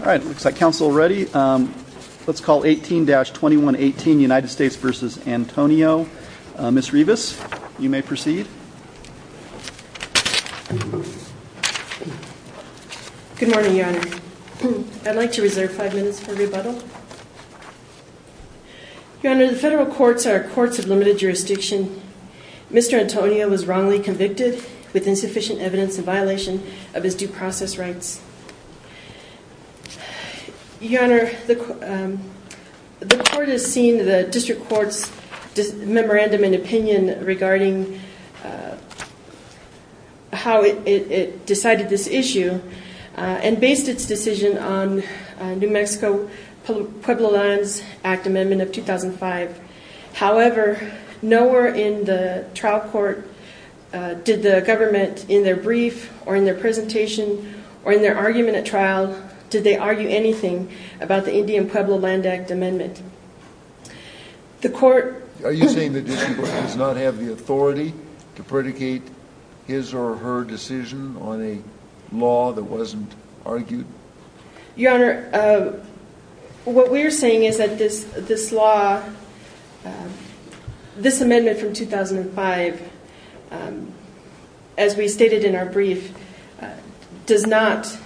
Alright, looks like council is ready. Let's call 18-2118 United States v. Antonio. Ms. Rivas, you may proceed. Good morning, Your Honor. I'd like to reserve five minutes for rebuttal. Your Honor, the federal courts are courts of limited jurisdiction. Mr. Antonio was wrongly convicted with insufficient evidence in violation of his due process rights. Your Honor, the court has seen the district court's memorandum in opinion regarding how it decided this issue and based its decision on New Mexico Pueblo lands act amendment of 2005. However, nowhere in the trial court did the government in their brief or in their presentation or in their argument at trial did they argue anything about the Indian Pueblo land act amendment. The court... Are you saying the district court does not have the authority to predicate his or her decision on a law that wasn't argued? Your Honor, what we're saying is that this law, this amendment from 2005, as we stated in our brief, does not...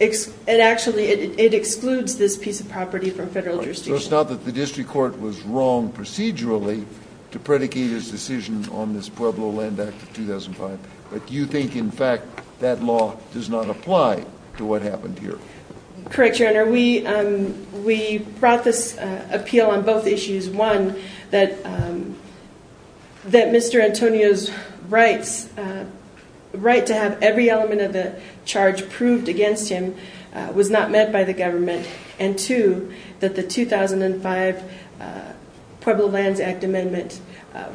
It actually excludes this piece of property from federal jurisdiction. So it's not that the district court was wrong procedurally to predicate its decision on this Pueblo land act of 2005, but you think in fact that law does not apply to what happened here? Correct, Your Honor. We brought this appeal on both issues. One, that Mr. Antonio's right to have every element of the charge proved against him was not met by the government. And two, that the 2005 Pueblo lands act amendment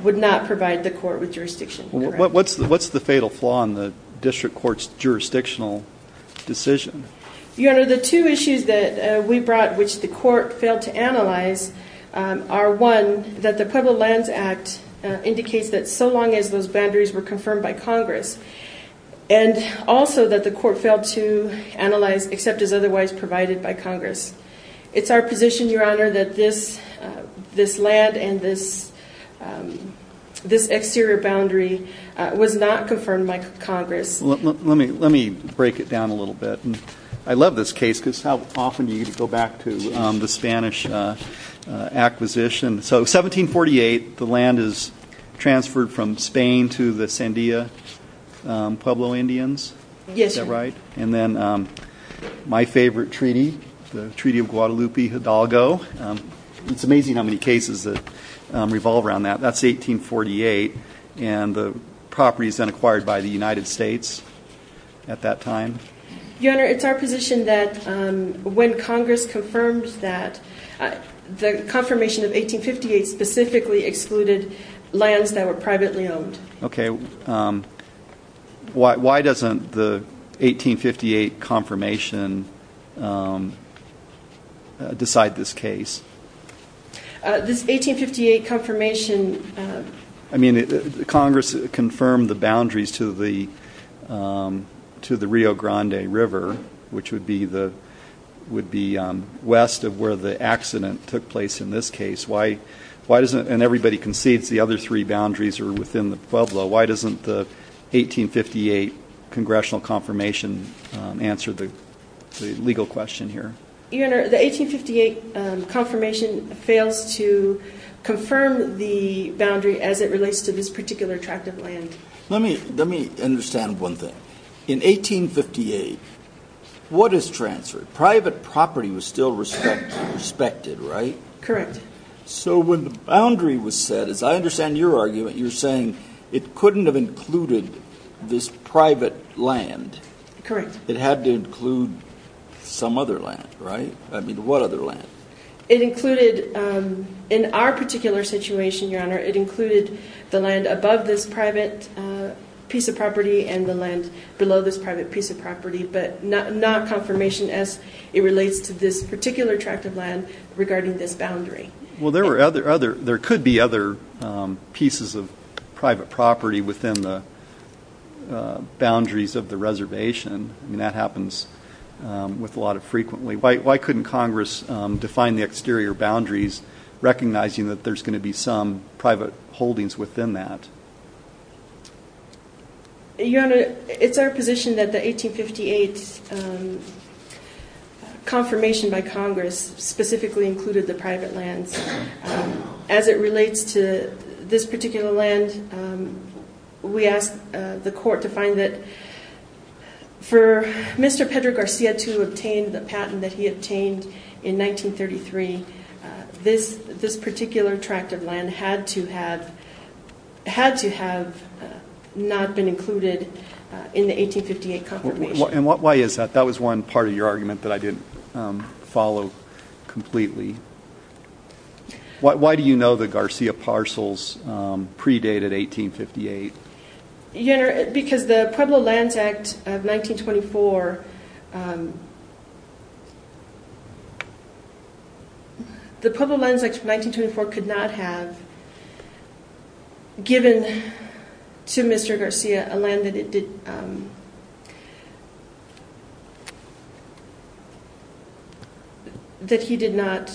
would not provide the court with jurisdiction. What's the fatal flaw in the district court's jurisdictional decision? Your Honor, the two issues that we brought, which the court failed to analyze, are one, that the Pueblo lands act indicates that so long as those boundaries were confirmed by Congress, and also that the court failed to analyze except as otherwise provided by Congress. It's our position, Your Honor, that this land and this exterior boundary was not confirmed by Congress. Let me break it down a little bit. I love this case because how often you go back to the Spanish acquisition. So 1748, the land is transferred from Spain to the Sandia Pueblo Indians. Yes, Your Honor. Right. And then my favorite treaty, the Treaty of Guadalupe Hidalgo. It's amazing how many cases that revolve around that. That's 1848, and the property is then acquired by the United States at that time. Your Honor, it's our position that when Congress confirmed that, the confirmation of 1858 specifically excluded lands that were privately owned. Okay. Why doesn't the 1858 confirmation decide this case? This 1858 confirmation. I mean, Congress confirmed the boundaries to the Rio Grande River, which would be west of where the accident took place in this case. And everybody concedes the other three boundaries are within the Pueblo. Why doesn't the 1858 congressional confirmation answer the legal question here? Your Honor, the 1858 confirmation fails to confirm the boundary as it relates to this particular tract of land. Let me understand one thing. In 1858, what is transferred? Private property was still respected, right? Correct. So when the boundary was set, as I understand your argument, you're saying it couldn't have included this private land. Correct. It had to include some other land, right? I mean, what other land? It included, in our particular situation, Your Honor, it included the land above this private piece of property and the land below this private piece of property, but not confirmation as it relates to this particular tract of land regarding this boundary. Well, there could be other pieces of private property within the boundaries of the reservation. I mean, that happens with a lot of frequently. Why couldn't Congress define the exterior boundaries, recognizing that there's going to be some private holdings within that? Your Honor, it's our position that the 1858 confirmation by Congress specifically included the private lands. As it relates to this particular land, we asked the court to find that for Mr. Pedro Garcia to obtain the patent that he obtained in 1933, this particular tract of land had to have not been included in the 1858 confirmation. And why is that? That was one part of your argument that I didn't follow completely. Why do you know the Garcia parcels predate at 1858? Your Honor, because the Pueblo Lands Act of 1924 could not have given to Mr. Garcia a land that he did not.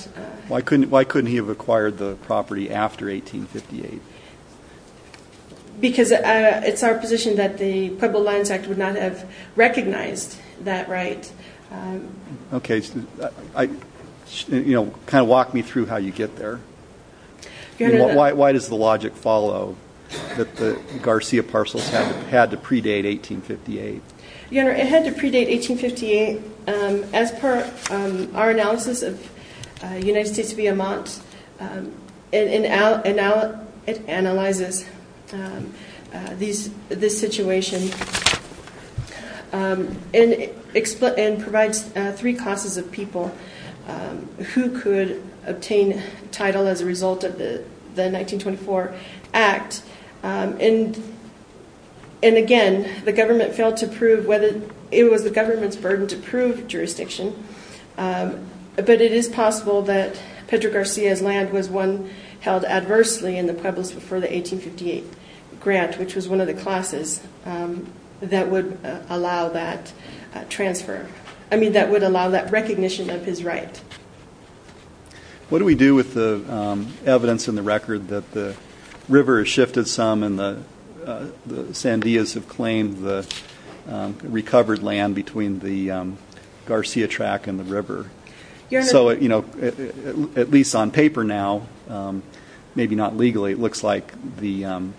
Why couldn't he have acquired the property after 1858? Because it's our position that the Pueblo Lands Act would not have recognized that right. Okay. Kind of walk me through how you get there. Why does the logic follow that the Garcia parcels had to predate 1858? Your Honor, it had to predate 1858 as per our analysis of United States v. Vermont. And now it analyzes this situation and provides three classes of people who could obtain title as a result of the 1924 Act. And again, the government failed to prove whether it was the government's burden to prove jurisdiction. But it is possible that Pedro Garcia's land was one held adversely in the Pueblos before the 1858 grant, which was one of the classes that would allow that recognition of his right. What do we do with the evidence in the record that the river has shifted some and the Sandias have claimed the recovered land between the Garcia track and the river? So, you know, at least on paper now, maybe not legally, it looks like the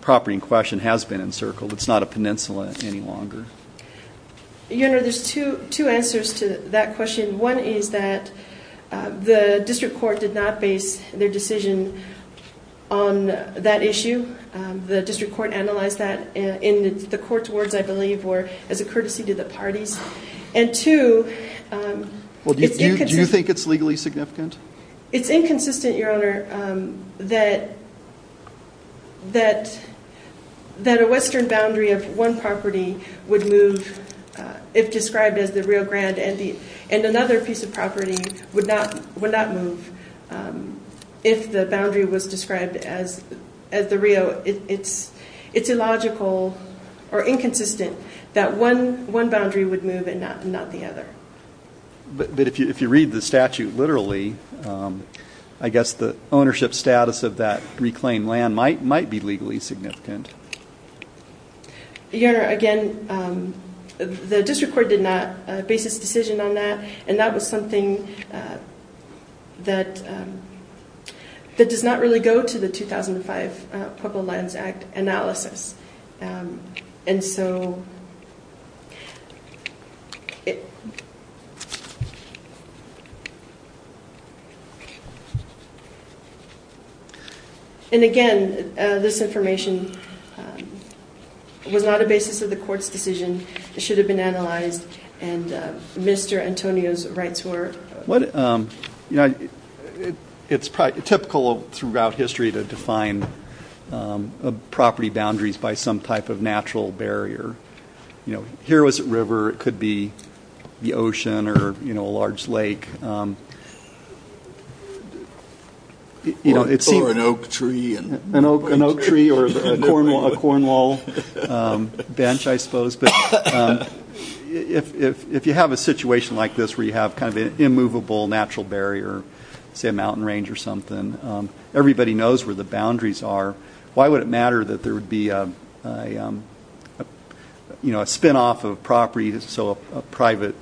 property in question has been encircled. Your Honor, there's two answers to that question. One is that the district court did not base their decision on that issue. The district court analyzed that in the court's words, I believe, or as a courtesy to the parties. And two, it's inconsistent. Do you think it's legally significant? It's inconsistent, Your Honor, that a western boundary of one property would move if described as the Rio Grande and another piece of property would not move if the boundary was described as the Rio. It's illogical or inconsistent that one boundary would move and not the other. But if you read the statute literally, I guess the ownership status of that reclaimed land might be legally significant. Your Honor, again, the district court did not base its decision on that, and that was something that does not really go to the 2005 Pueblo Lands Act analysis. And so, and again, this information was not a basis of the court's decision. It should have been analyzed, and Mr. Antonio's rights were. It's typical throughout history to define property boundaries by some type of natural barrier. Here was a river. It could be the ocean or a large lake. Or an oak tree. An oak tree or a cornwall bench, I suppose. But if you have a situation like this where you have kind of an immovable natural barrier, say a mountain range or something, everybody knows where the boundaries are, why would it matter that there would be a spinoff of property, so private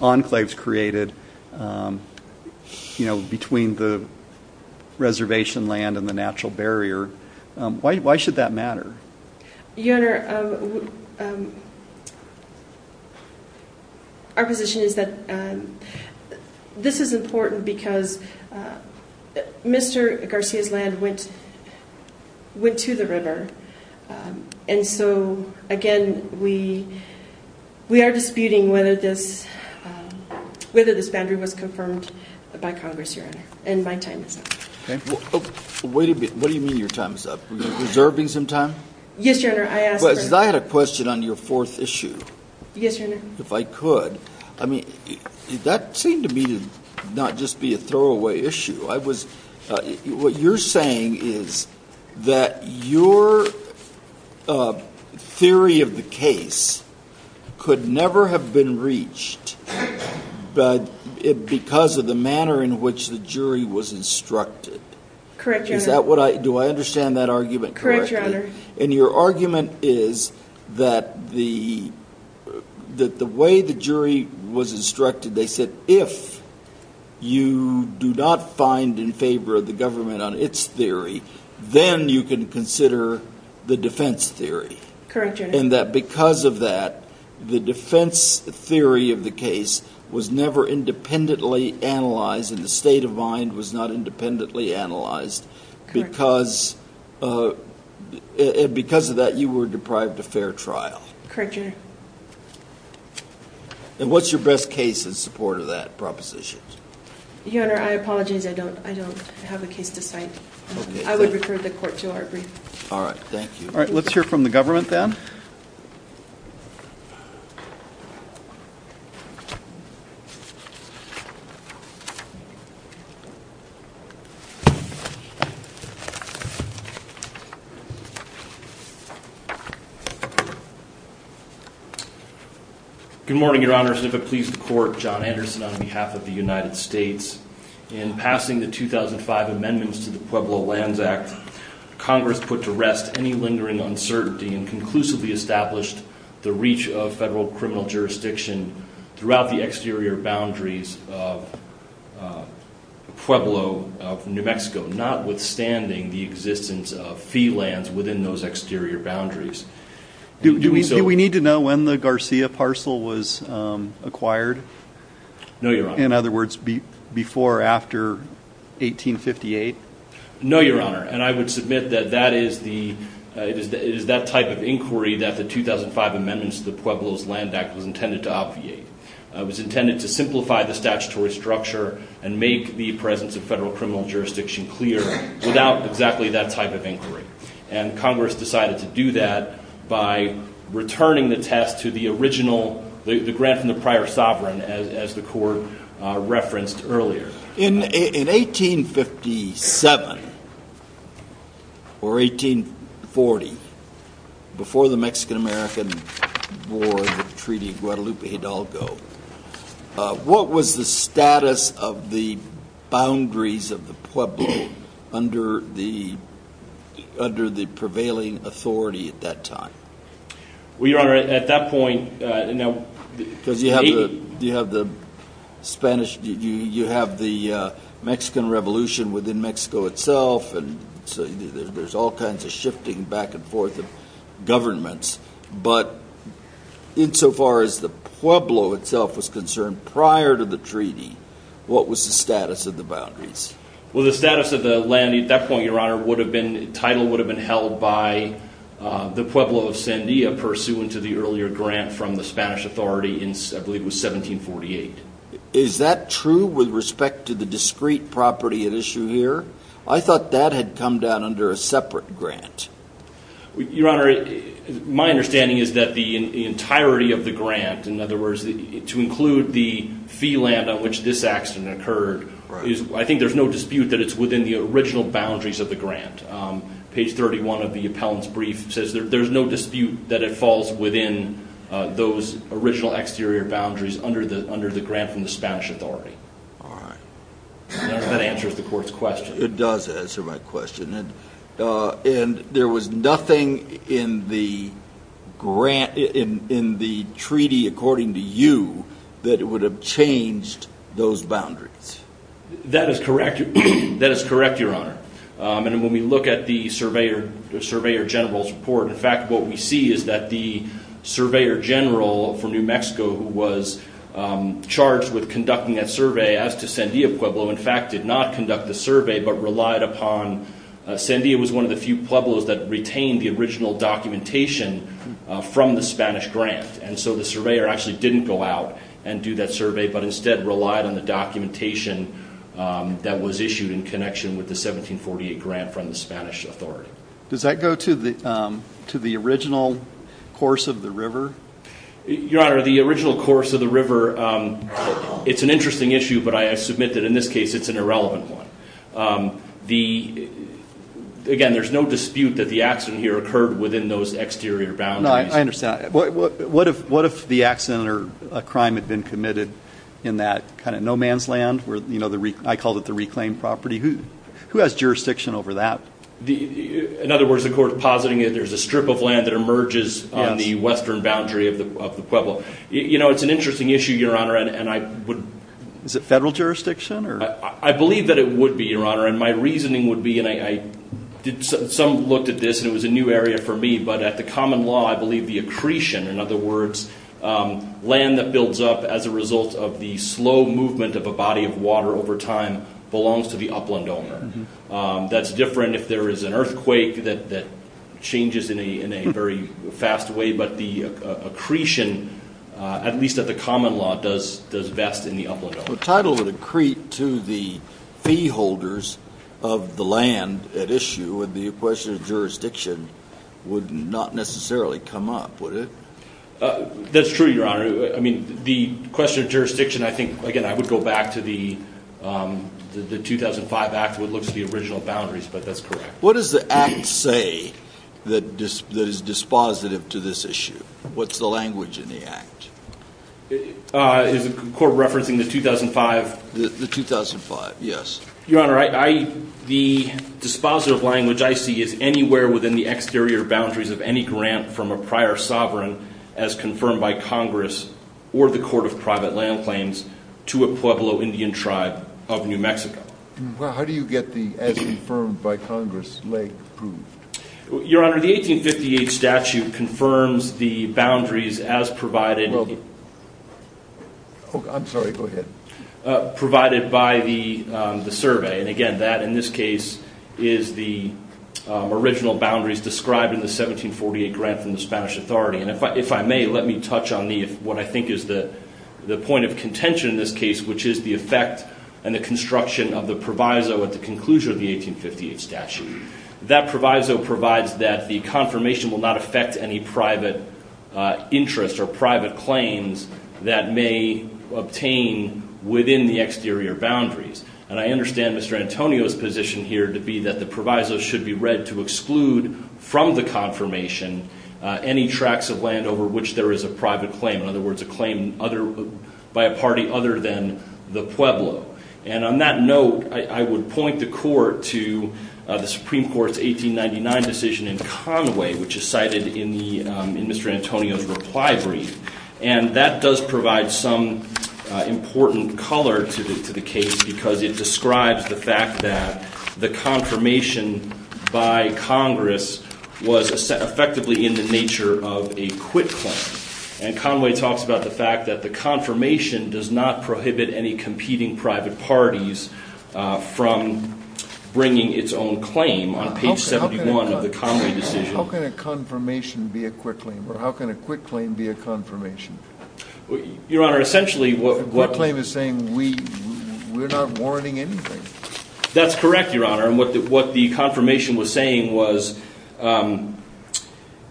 enclaves created between the reservation land and the natural barrier? Why should that matter? Your Honor, our position is that this is important because Mr. Garcia's land went to the river. And so, again, we are disputing whether this boundary was confirmed by Congress, Your Honor. And my time is up. Okay. Wait a minute. What do you mean your time is up? Reserving some time? Yes, Your Honor. I asked for that. I had a question on your fourth issue. Yes, Your Honor. If I could. I mean, that seemed to me to not just be a throwaway issue. I was ‑‑ what you're saying is that your theory of the case could never have been reached because of the manner in which the jury was instructed. Correct, Your Honor. Do I understand that argument correctly? Correct, Your Honor. And your argument is that the way the jury was instructed, they said, if you do not find in favor of the government on its theory, then you can consider the defense theory. Correct, Your Honor. And that because of that, the defense theory of the case was never independently analyzed and the state of mind was not independently analyzed. Correct. Because of that, you were deprived a fair trial. Correct, Your Honor. And what's your best case in support of that proposition? Your Honor, I apologize. I don't have a case to cite. Okay. I would refer the court to our brief. All right. Thank you. All right. Let's hear from the government then. Good morning, Your Honors. And if it pleases the court, John Anderson on behalf of the United States. In passing the 2005 amendments to the Pueblo Lands Act, Congress put to rest any lingering uncertainty and conclusively established the reach of federal criminal jurisdiction throughout the exterior boundaries of Pueblo of New Mexico, notwithstanding the existence of fee lands within those exterior boundaries. Do we need to know when the Garcia parcel was acquired? No, Your Honor. In other words, before or after 1858? No, Your Honor. And I would submit that it is that type of inquiry that the 2005 amendments to the Pueblo's Land Act was intended to obviate. It was intended to simplify the statutory structure and make the presence of federal criminal jurisdiction clear without exactly that type of inquiry. And Congress decided to do that by returning the test to the original, the grant from the prior sovereign, as the court referenced earlier. In 1857 or 1840, before the Mexican-American War, the Treaty of Guadalupe Hidalgo, what was the status of the boundaries of the Pueblo under the prevailing authority at that time? Well, Your Honor, at that point, you know, Because you have the Spanish, you have the Mexican Revolution within Mexico itself, and so there's all kinds of shifting back and forth of governments. But insofar as the Pueblo itself was concerned prior to the treaty, what was the status of the boundaries? Well, the status of the land at that point, Your Honor, would have been, the title would have been held by the Pueblo of Sandia, pursuant to the earlier grant from the Spanish authority in, I believe it was 1748. Is that true with respect to the discrete property at issue here? I thought that had come down under a separate grant. Your Honor, my understanding is that the entirety of the grant, in other words, to include the fee land on which this accident occurred, I think there's no dispute that it's within the original boundaries of the grant. Page 31 of the appellant's brief says there's no dispute that it falls within those original exterior boundaries under the grant from the Spanish authority. All right. That answers the court's question. It does answer my question. And there was nothing in the treaty according to you that would have changed those boundaries? That is correct, Your Honor. And when we look at the Surveyor General's report, in fact what we see is that the Surveyor General from New Mexico, who was charged with conducting that survey as to Sandia Pueblo, in fact did not conduct the survey but relied upon – Sandia was one of the few pueblos that retained the original documentation from the Spanish grant. And so the Surveyor actually didn't go out and do that survey, but instead relied on the documentation that was issued in connection with the 1748 grant from the Spanish authority. Does that go to the original course of the river? Your Honor, the original course of the river, it's an interesting issue, but I submit that in this case it's an irrelevant one. Again, there's no dispute that the accident here occurred within those exterior boundaries. I understand. What if the accident or a crime had been committed in that kind of no man's land? I called it the reclaimed property. Who has jurisdiction over that? In other words, the court is positing that there's a strip of land that emerges on the western boundary of the Pueblo. It's an interesting issue, Your Honor. Is it federal jurisdiction? I believe that it would be, Your Honor, and my reasoning would be, and some looked at this and it was a new area for me, but at the common law I believe the accretion, in other words, land that builds up as a result of the slow movement of a body of water over time belongs to the upland owner. That's different if there is an earthquake that changes in a very fast way, but the accretion, at least at the common law, does vest in the upland owner. The title would accrete to the fee holders of the land at issue, and the question of jurisdiction would not necessarily come up, would it? That's true, Your Honor. I mean, the question of jurisdiction, I think, again, I would go back to the 2005 Act when it looks at the original boundaries, but that's correct. What does the Act say that is dispositive to this issue? What's the language in the Act? Is the Court referencing the 2005? The 2005, yes. Your Honor, the dispositive language I see is anywhere within the exterior boundaries of any grant from a prior sovereign as confirmed by Congress or the Court of Private Land Claims to a Pueblo Indian tribe of New Mexico. How do you get the as confirmed by Congress leg approved? Your Honor, the 1858 statute confirms the boundaries as provided by the survey. And again, that in this case is the original boundaries described in the 1748 grant from the Spanish Authority. And if I may, let me touch on what I think is the point of contention in this case, which is the effect and the construction of the proviso at the conclusion of the 1858 statute. That proviso provides that the confirmation will not affect any private interest or private claims that may obtain within the exterior boundaries. And I understand Mr. Antonio's position here to be that the proviso should be read to exclude from the confirmation any tracts of land over which there is a private claim, in other words, a claim by a party other than the Pueblo. And on that note, I would point the Court to the Supreme Court's 1899 decision in Conway, which is cited in Mr. Antonio's reply brief. And that does provide some important color to the case because it describes the fact that the confirmation by Congress was effectively in the nature of a quit claim. And Conway talks about the fact that the confirmation does not prohibit any competing private parties from bringing its own claim on page 71 of the Conway decision. How can a confirmation be a quit claim, or how can a quit claim be a confirmation? Your Honor, essentially what... A quit claim is saying we're not warranting anything. That's correct, Your Honor. And what the confirmation was saying was, and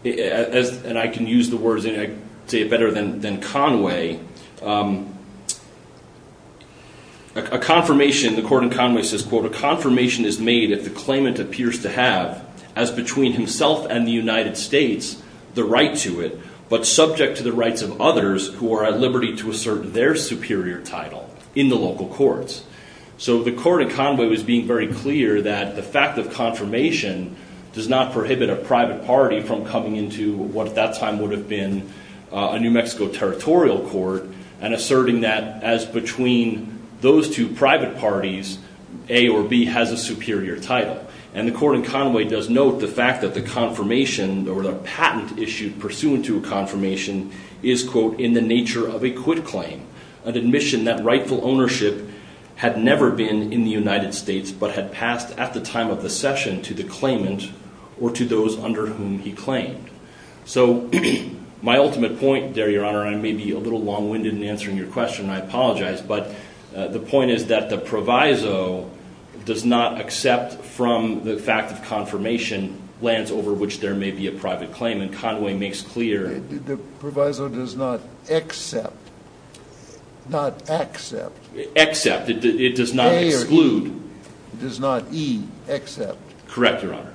I can use the words, and I can say it better than Conway, a confirmation, the Court in Conway says, quote, a confirmation is made if the claimant appears to have, as between himself and the United States, the right to it, but subject to the rights of others who are at liberty to assert their superior title in the local courts. So the Court in Conway was being very clear that the fact of confirmation does not prohibit a private party from coming into what at that time would have been a New Mexico territorial court and asserting that as between those two private parties, A or B has a superior title. And the Court in Conway does note the fact that the confirmation or the patent issued pursuant to a confirmation is, quote, in the nature of a quit claim, an admission that rightful ownership had never been in the United States but had passed at the time of the session to the claimant or to those under whom he claimed. So my ultimate point there, Your Honor, and I may be a little long-winded in answering your question, and I apologize, but the point is that the proviso does not accept from the fact of confirmation lands over which there may be a private claim, and Conway makes clear... The proviso does not accept. Not accept. Accept. It does not exclude. A or E. It does not E. Accept. Correct, Your Honor.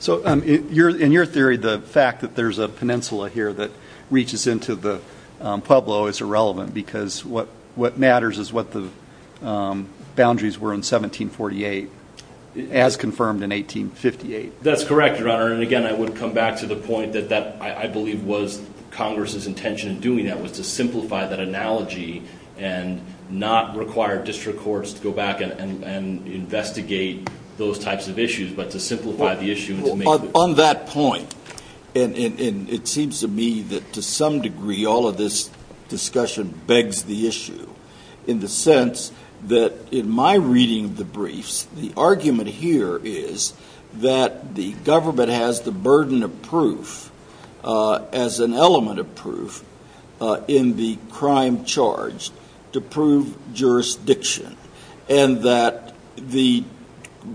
So in your theory, the fact that there's a peninsula here that reaches into the Pueblo is irrelevant because what matters is what the boundaries were in 1748 as confirmed in 1858. That's correct, Your Honor, and again, I would come back to the point that I believe was Congress's intention in doing that was to simplify that analogy and not require district courts to go back and investigate those types of issues but to simplify the issue and to make... Well, on that point, and it seems to me that to some degree all of this discussion begs the issue in the sense that in my reading of the briefs, the argument here is that the government has the burden of proof as an element of proof in the crime charged to prove jurisdiction and that the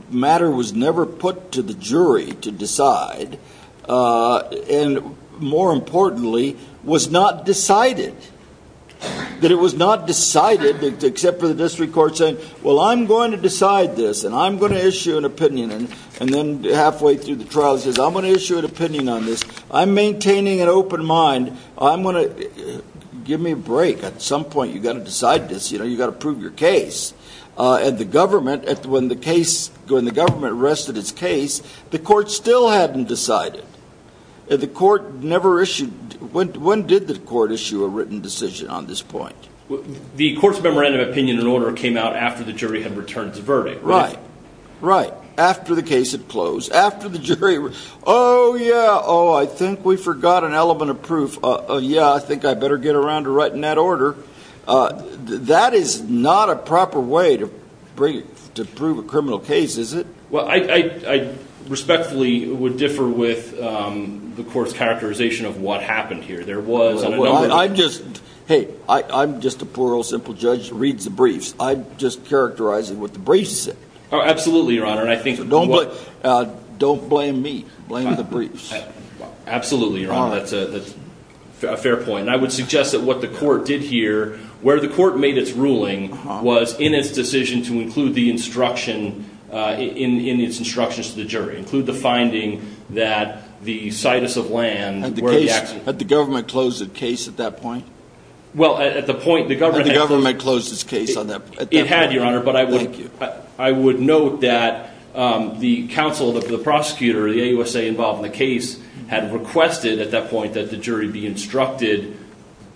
matter was never put to the jury to decide and more importantly, was not decided. That it was not decided except for the district court saying, well, I'm going to decide this and I'm going to issue an opinion and then halfway through the trial says, I'm going to issue an opinion on this. I'm maintaining an open mind. I'm going to... Give me a break. At some point, you've got to decide this. You know, you've got to prove your case. And the government, when the government arrested its case, the court still hadn't decided. The court never issued... When did the court issue a written decision on this point? The court's memorandum of opinion and order came out after the jury had returned the verdict. Right. Right. After the case had closed. After the jury... Oh, yeah. Oh, I think we forgot an element of proof. Yeah, I think I better get around to writing that order. That is not a proper way to prove a criminal case, is it? Well, I respectfully would differ with the court's characterization of what happened here. There was... I'm just... Hey, I'm just a poor old simple judge who reads the briefs. I'm just characterizing what the briefs said. Oh, absolutely, Your Honor, and I think... Don't blame me. Blame the briefs. Absolutely, Your Honor. That's a fair point. And I would suggest that what the court did here, where the court made its ruling, was in its decision to include the instruction, in its instructions to the jury, include the finding that the situs of land... Had the government closed the case at that point? Well, at the point the government... Had the government closed its case at that point? It had, Your Honor, but I would... Thank you. I would note that the counsel, the prosecutor, the AUSA involved in the case had requested at that point that the jury be instructed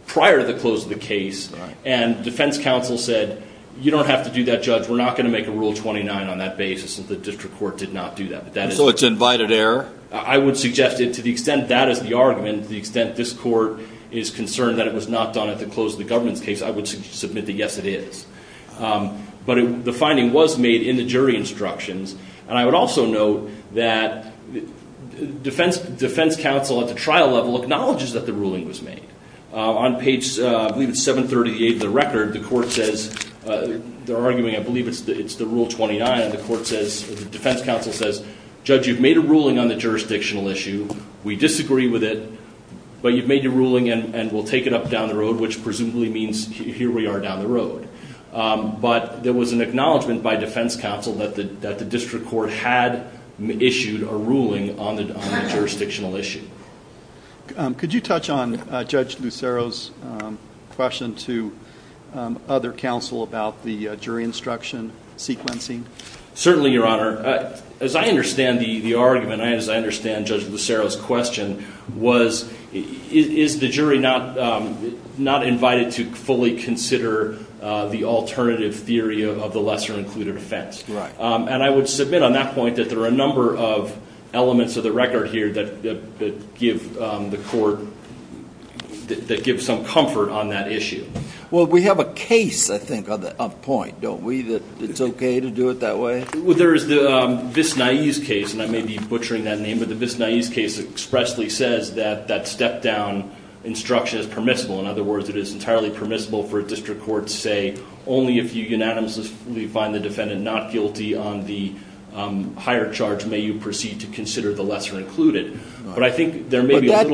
prior to the close of the case, and defense counsel said, you don't have to do that, Judge, we're not going to make a Rule 29 on that basis, and the district court did not do that. So it's an invited error? I would suggest that to the extent that is the argument, to the extent this court is concerned that it was not done at the close of the government's case, I would submit that, yes, it is. But the finding was made in the jury instructions, and I would also note that defense counsel at the trial level acknowledges that the ruling was made. On page, I believe it's 738 of the record, the court says, they're arguing, I believe it's the Rule 29, and the defense counsel says, Judge, you've made a ruling on the jurisdictional issue, we disagree with it, but you've made your ruling and we'll take it up down the road, which presumably means here we are down the road. But there was an acknowledgment by defense counsel that the district court had issued a ruling on the jurisdictional issue. Could you touch on Judge Lucero's question to other counsel about the jury instruction sequencing? Certainly, Your Honor. As I understand the argument, as I understand Judge Lucero's question, is the jury not invited to fully consider the alternative theory of the lesser-included offense? Right. And I would submit on that point that there are a number of elements of the record here that give the court some comfort on that issue. Well, we have a case, I think, on point, don't we, that it's okay to do it that way? Well, there is the Viss-Naiz case, and I may be butchering that name, but the Viss-Naiz case expressly says that that step-down instruction is permissible. In other words, it is entirely permissible for a district court to say, only if you unanimously find the defendant not guilty on the higher charge may you proceed to consider the lesser-included. But I think there may be a little –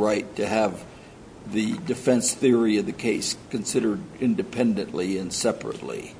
right, to have the defense theory of the case considered independently and separately.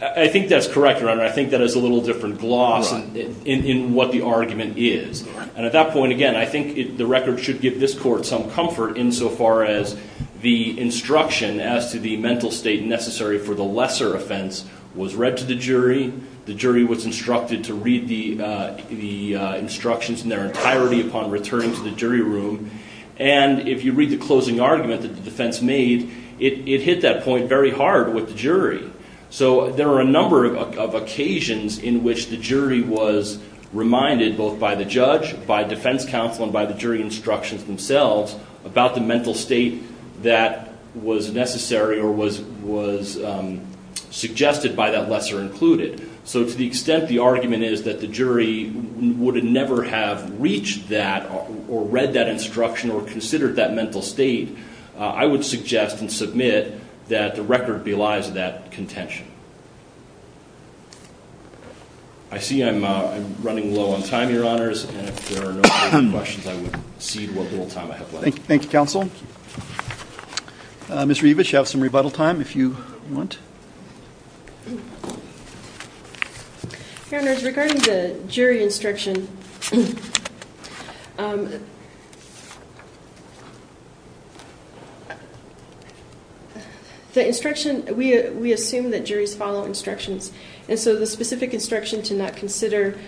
I think that's correct, Your Honor. I think that is a little different gloss in what the argument is. And at that point, again, I think the record should give this court some comfort insofar as the instruction as to the mental state necessary for the lesser offense was read to the jury. The jury was instructed to read the instructions in their entirety upon returning to the jury room. And if you read the closing argument that the defense made, it hit that point very hard with the jury. So there were a number of occasions in which the jury was reminded, both by the judge, by defense counsel, and by the jury instructions themselves, about the mental state that was necessary or was suggested by that lesser-included. So to the extent the argument is that the jury would never have reached that or read that instruction or considered that mental state, I would suggest and submit that the record belies that contention. I see I'm running low on time, Your Honors. And if there are no further questions, I would cede what little time I have left. Thank you, counsel. Ms. Rievich, you have some rebuttal time if you want. Your Honors, regarding the jury instruction, the instruction, we assume that juries follow instructions. And so the specific instruction to not consider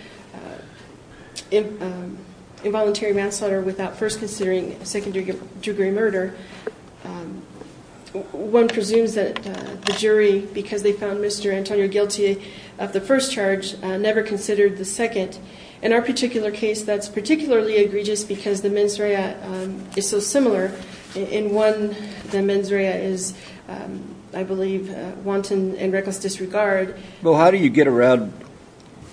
involuntary manslaughter without first considering secondary murder, one presumes that the jury, because they found Mr. Antonio guilty of the first charge, never considered the second. In our particular case, that's particularly egregious because the mens rea is so similar. In one, the mens rea is, I believe, wanton and reckless disregard. Well, how do you get around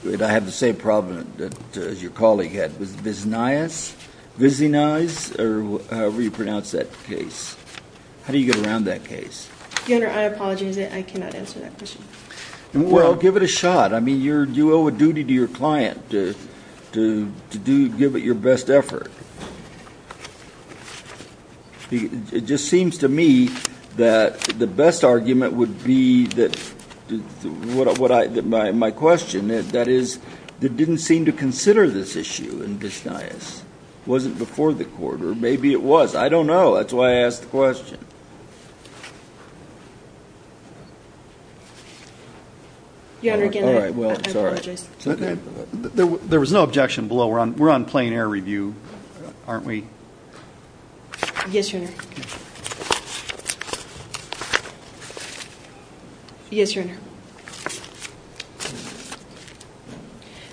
it? I have the same problem that your colleague had. Was it Viznaez or however you pronounce that case? How do you get around that case? Your Honor, I apologize. I cannot answer that question. Well, give it a shot. I mean, you owe a duty to your client to give it your best effort. It just seems to me that the best argument would be my question. That is, they didn't seem to consider this issue in Viznaez. Was it before the court? Or maybe it was. I don't know. That's why I asked the question. Your Honor, again, I apologize. There was no objection below. We're on plain air review, aren't we? Yes, Your Honor. Yes, Your Honor.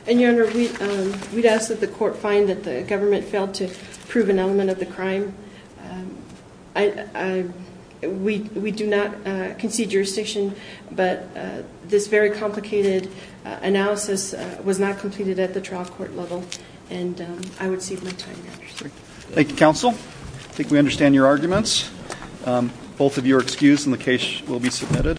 And, Your Honor, we'd ask that the court find that the government failed to prove an element of the crime. We do not concede jurisdiction. But this very complicated analysis was not completed at the trial court level. And I would cede my time, Your Honor. Thank you, counsel. I think we understand your arguments. Both of you are excused and the case will be submitted.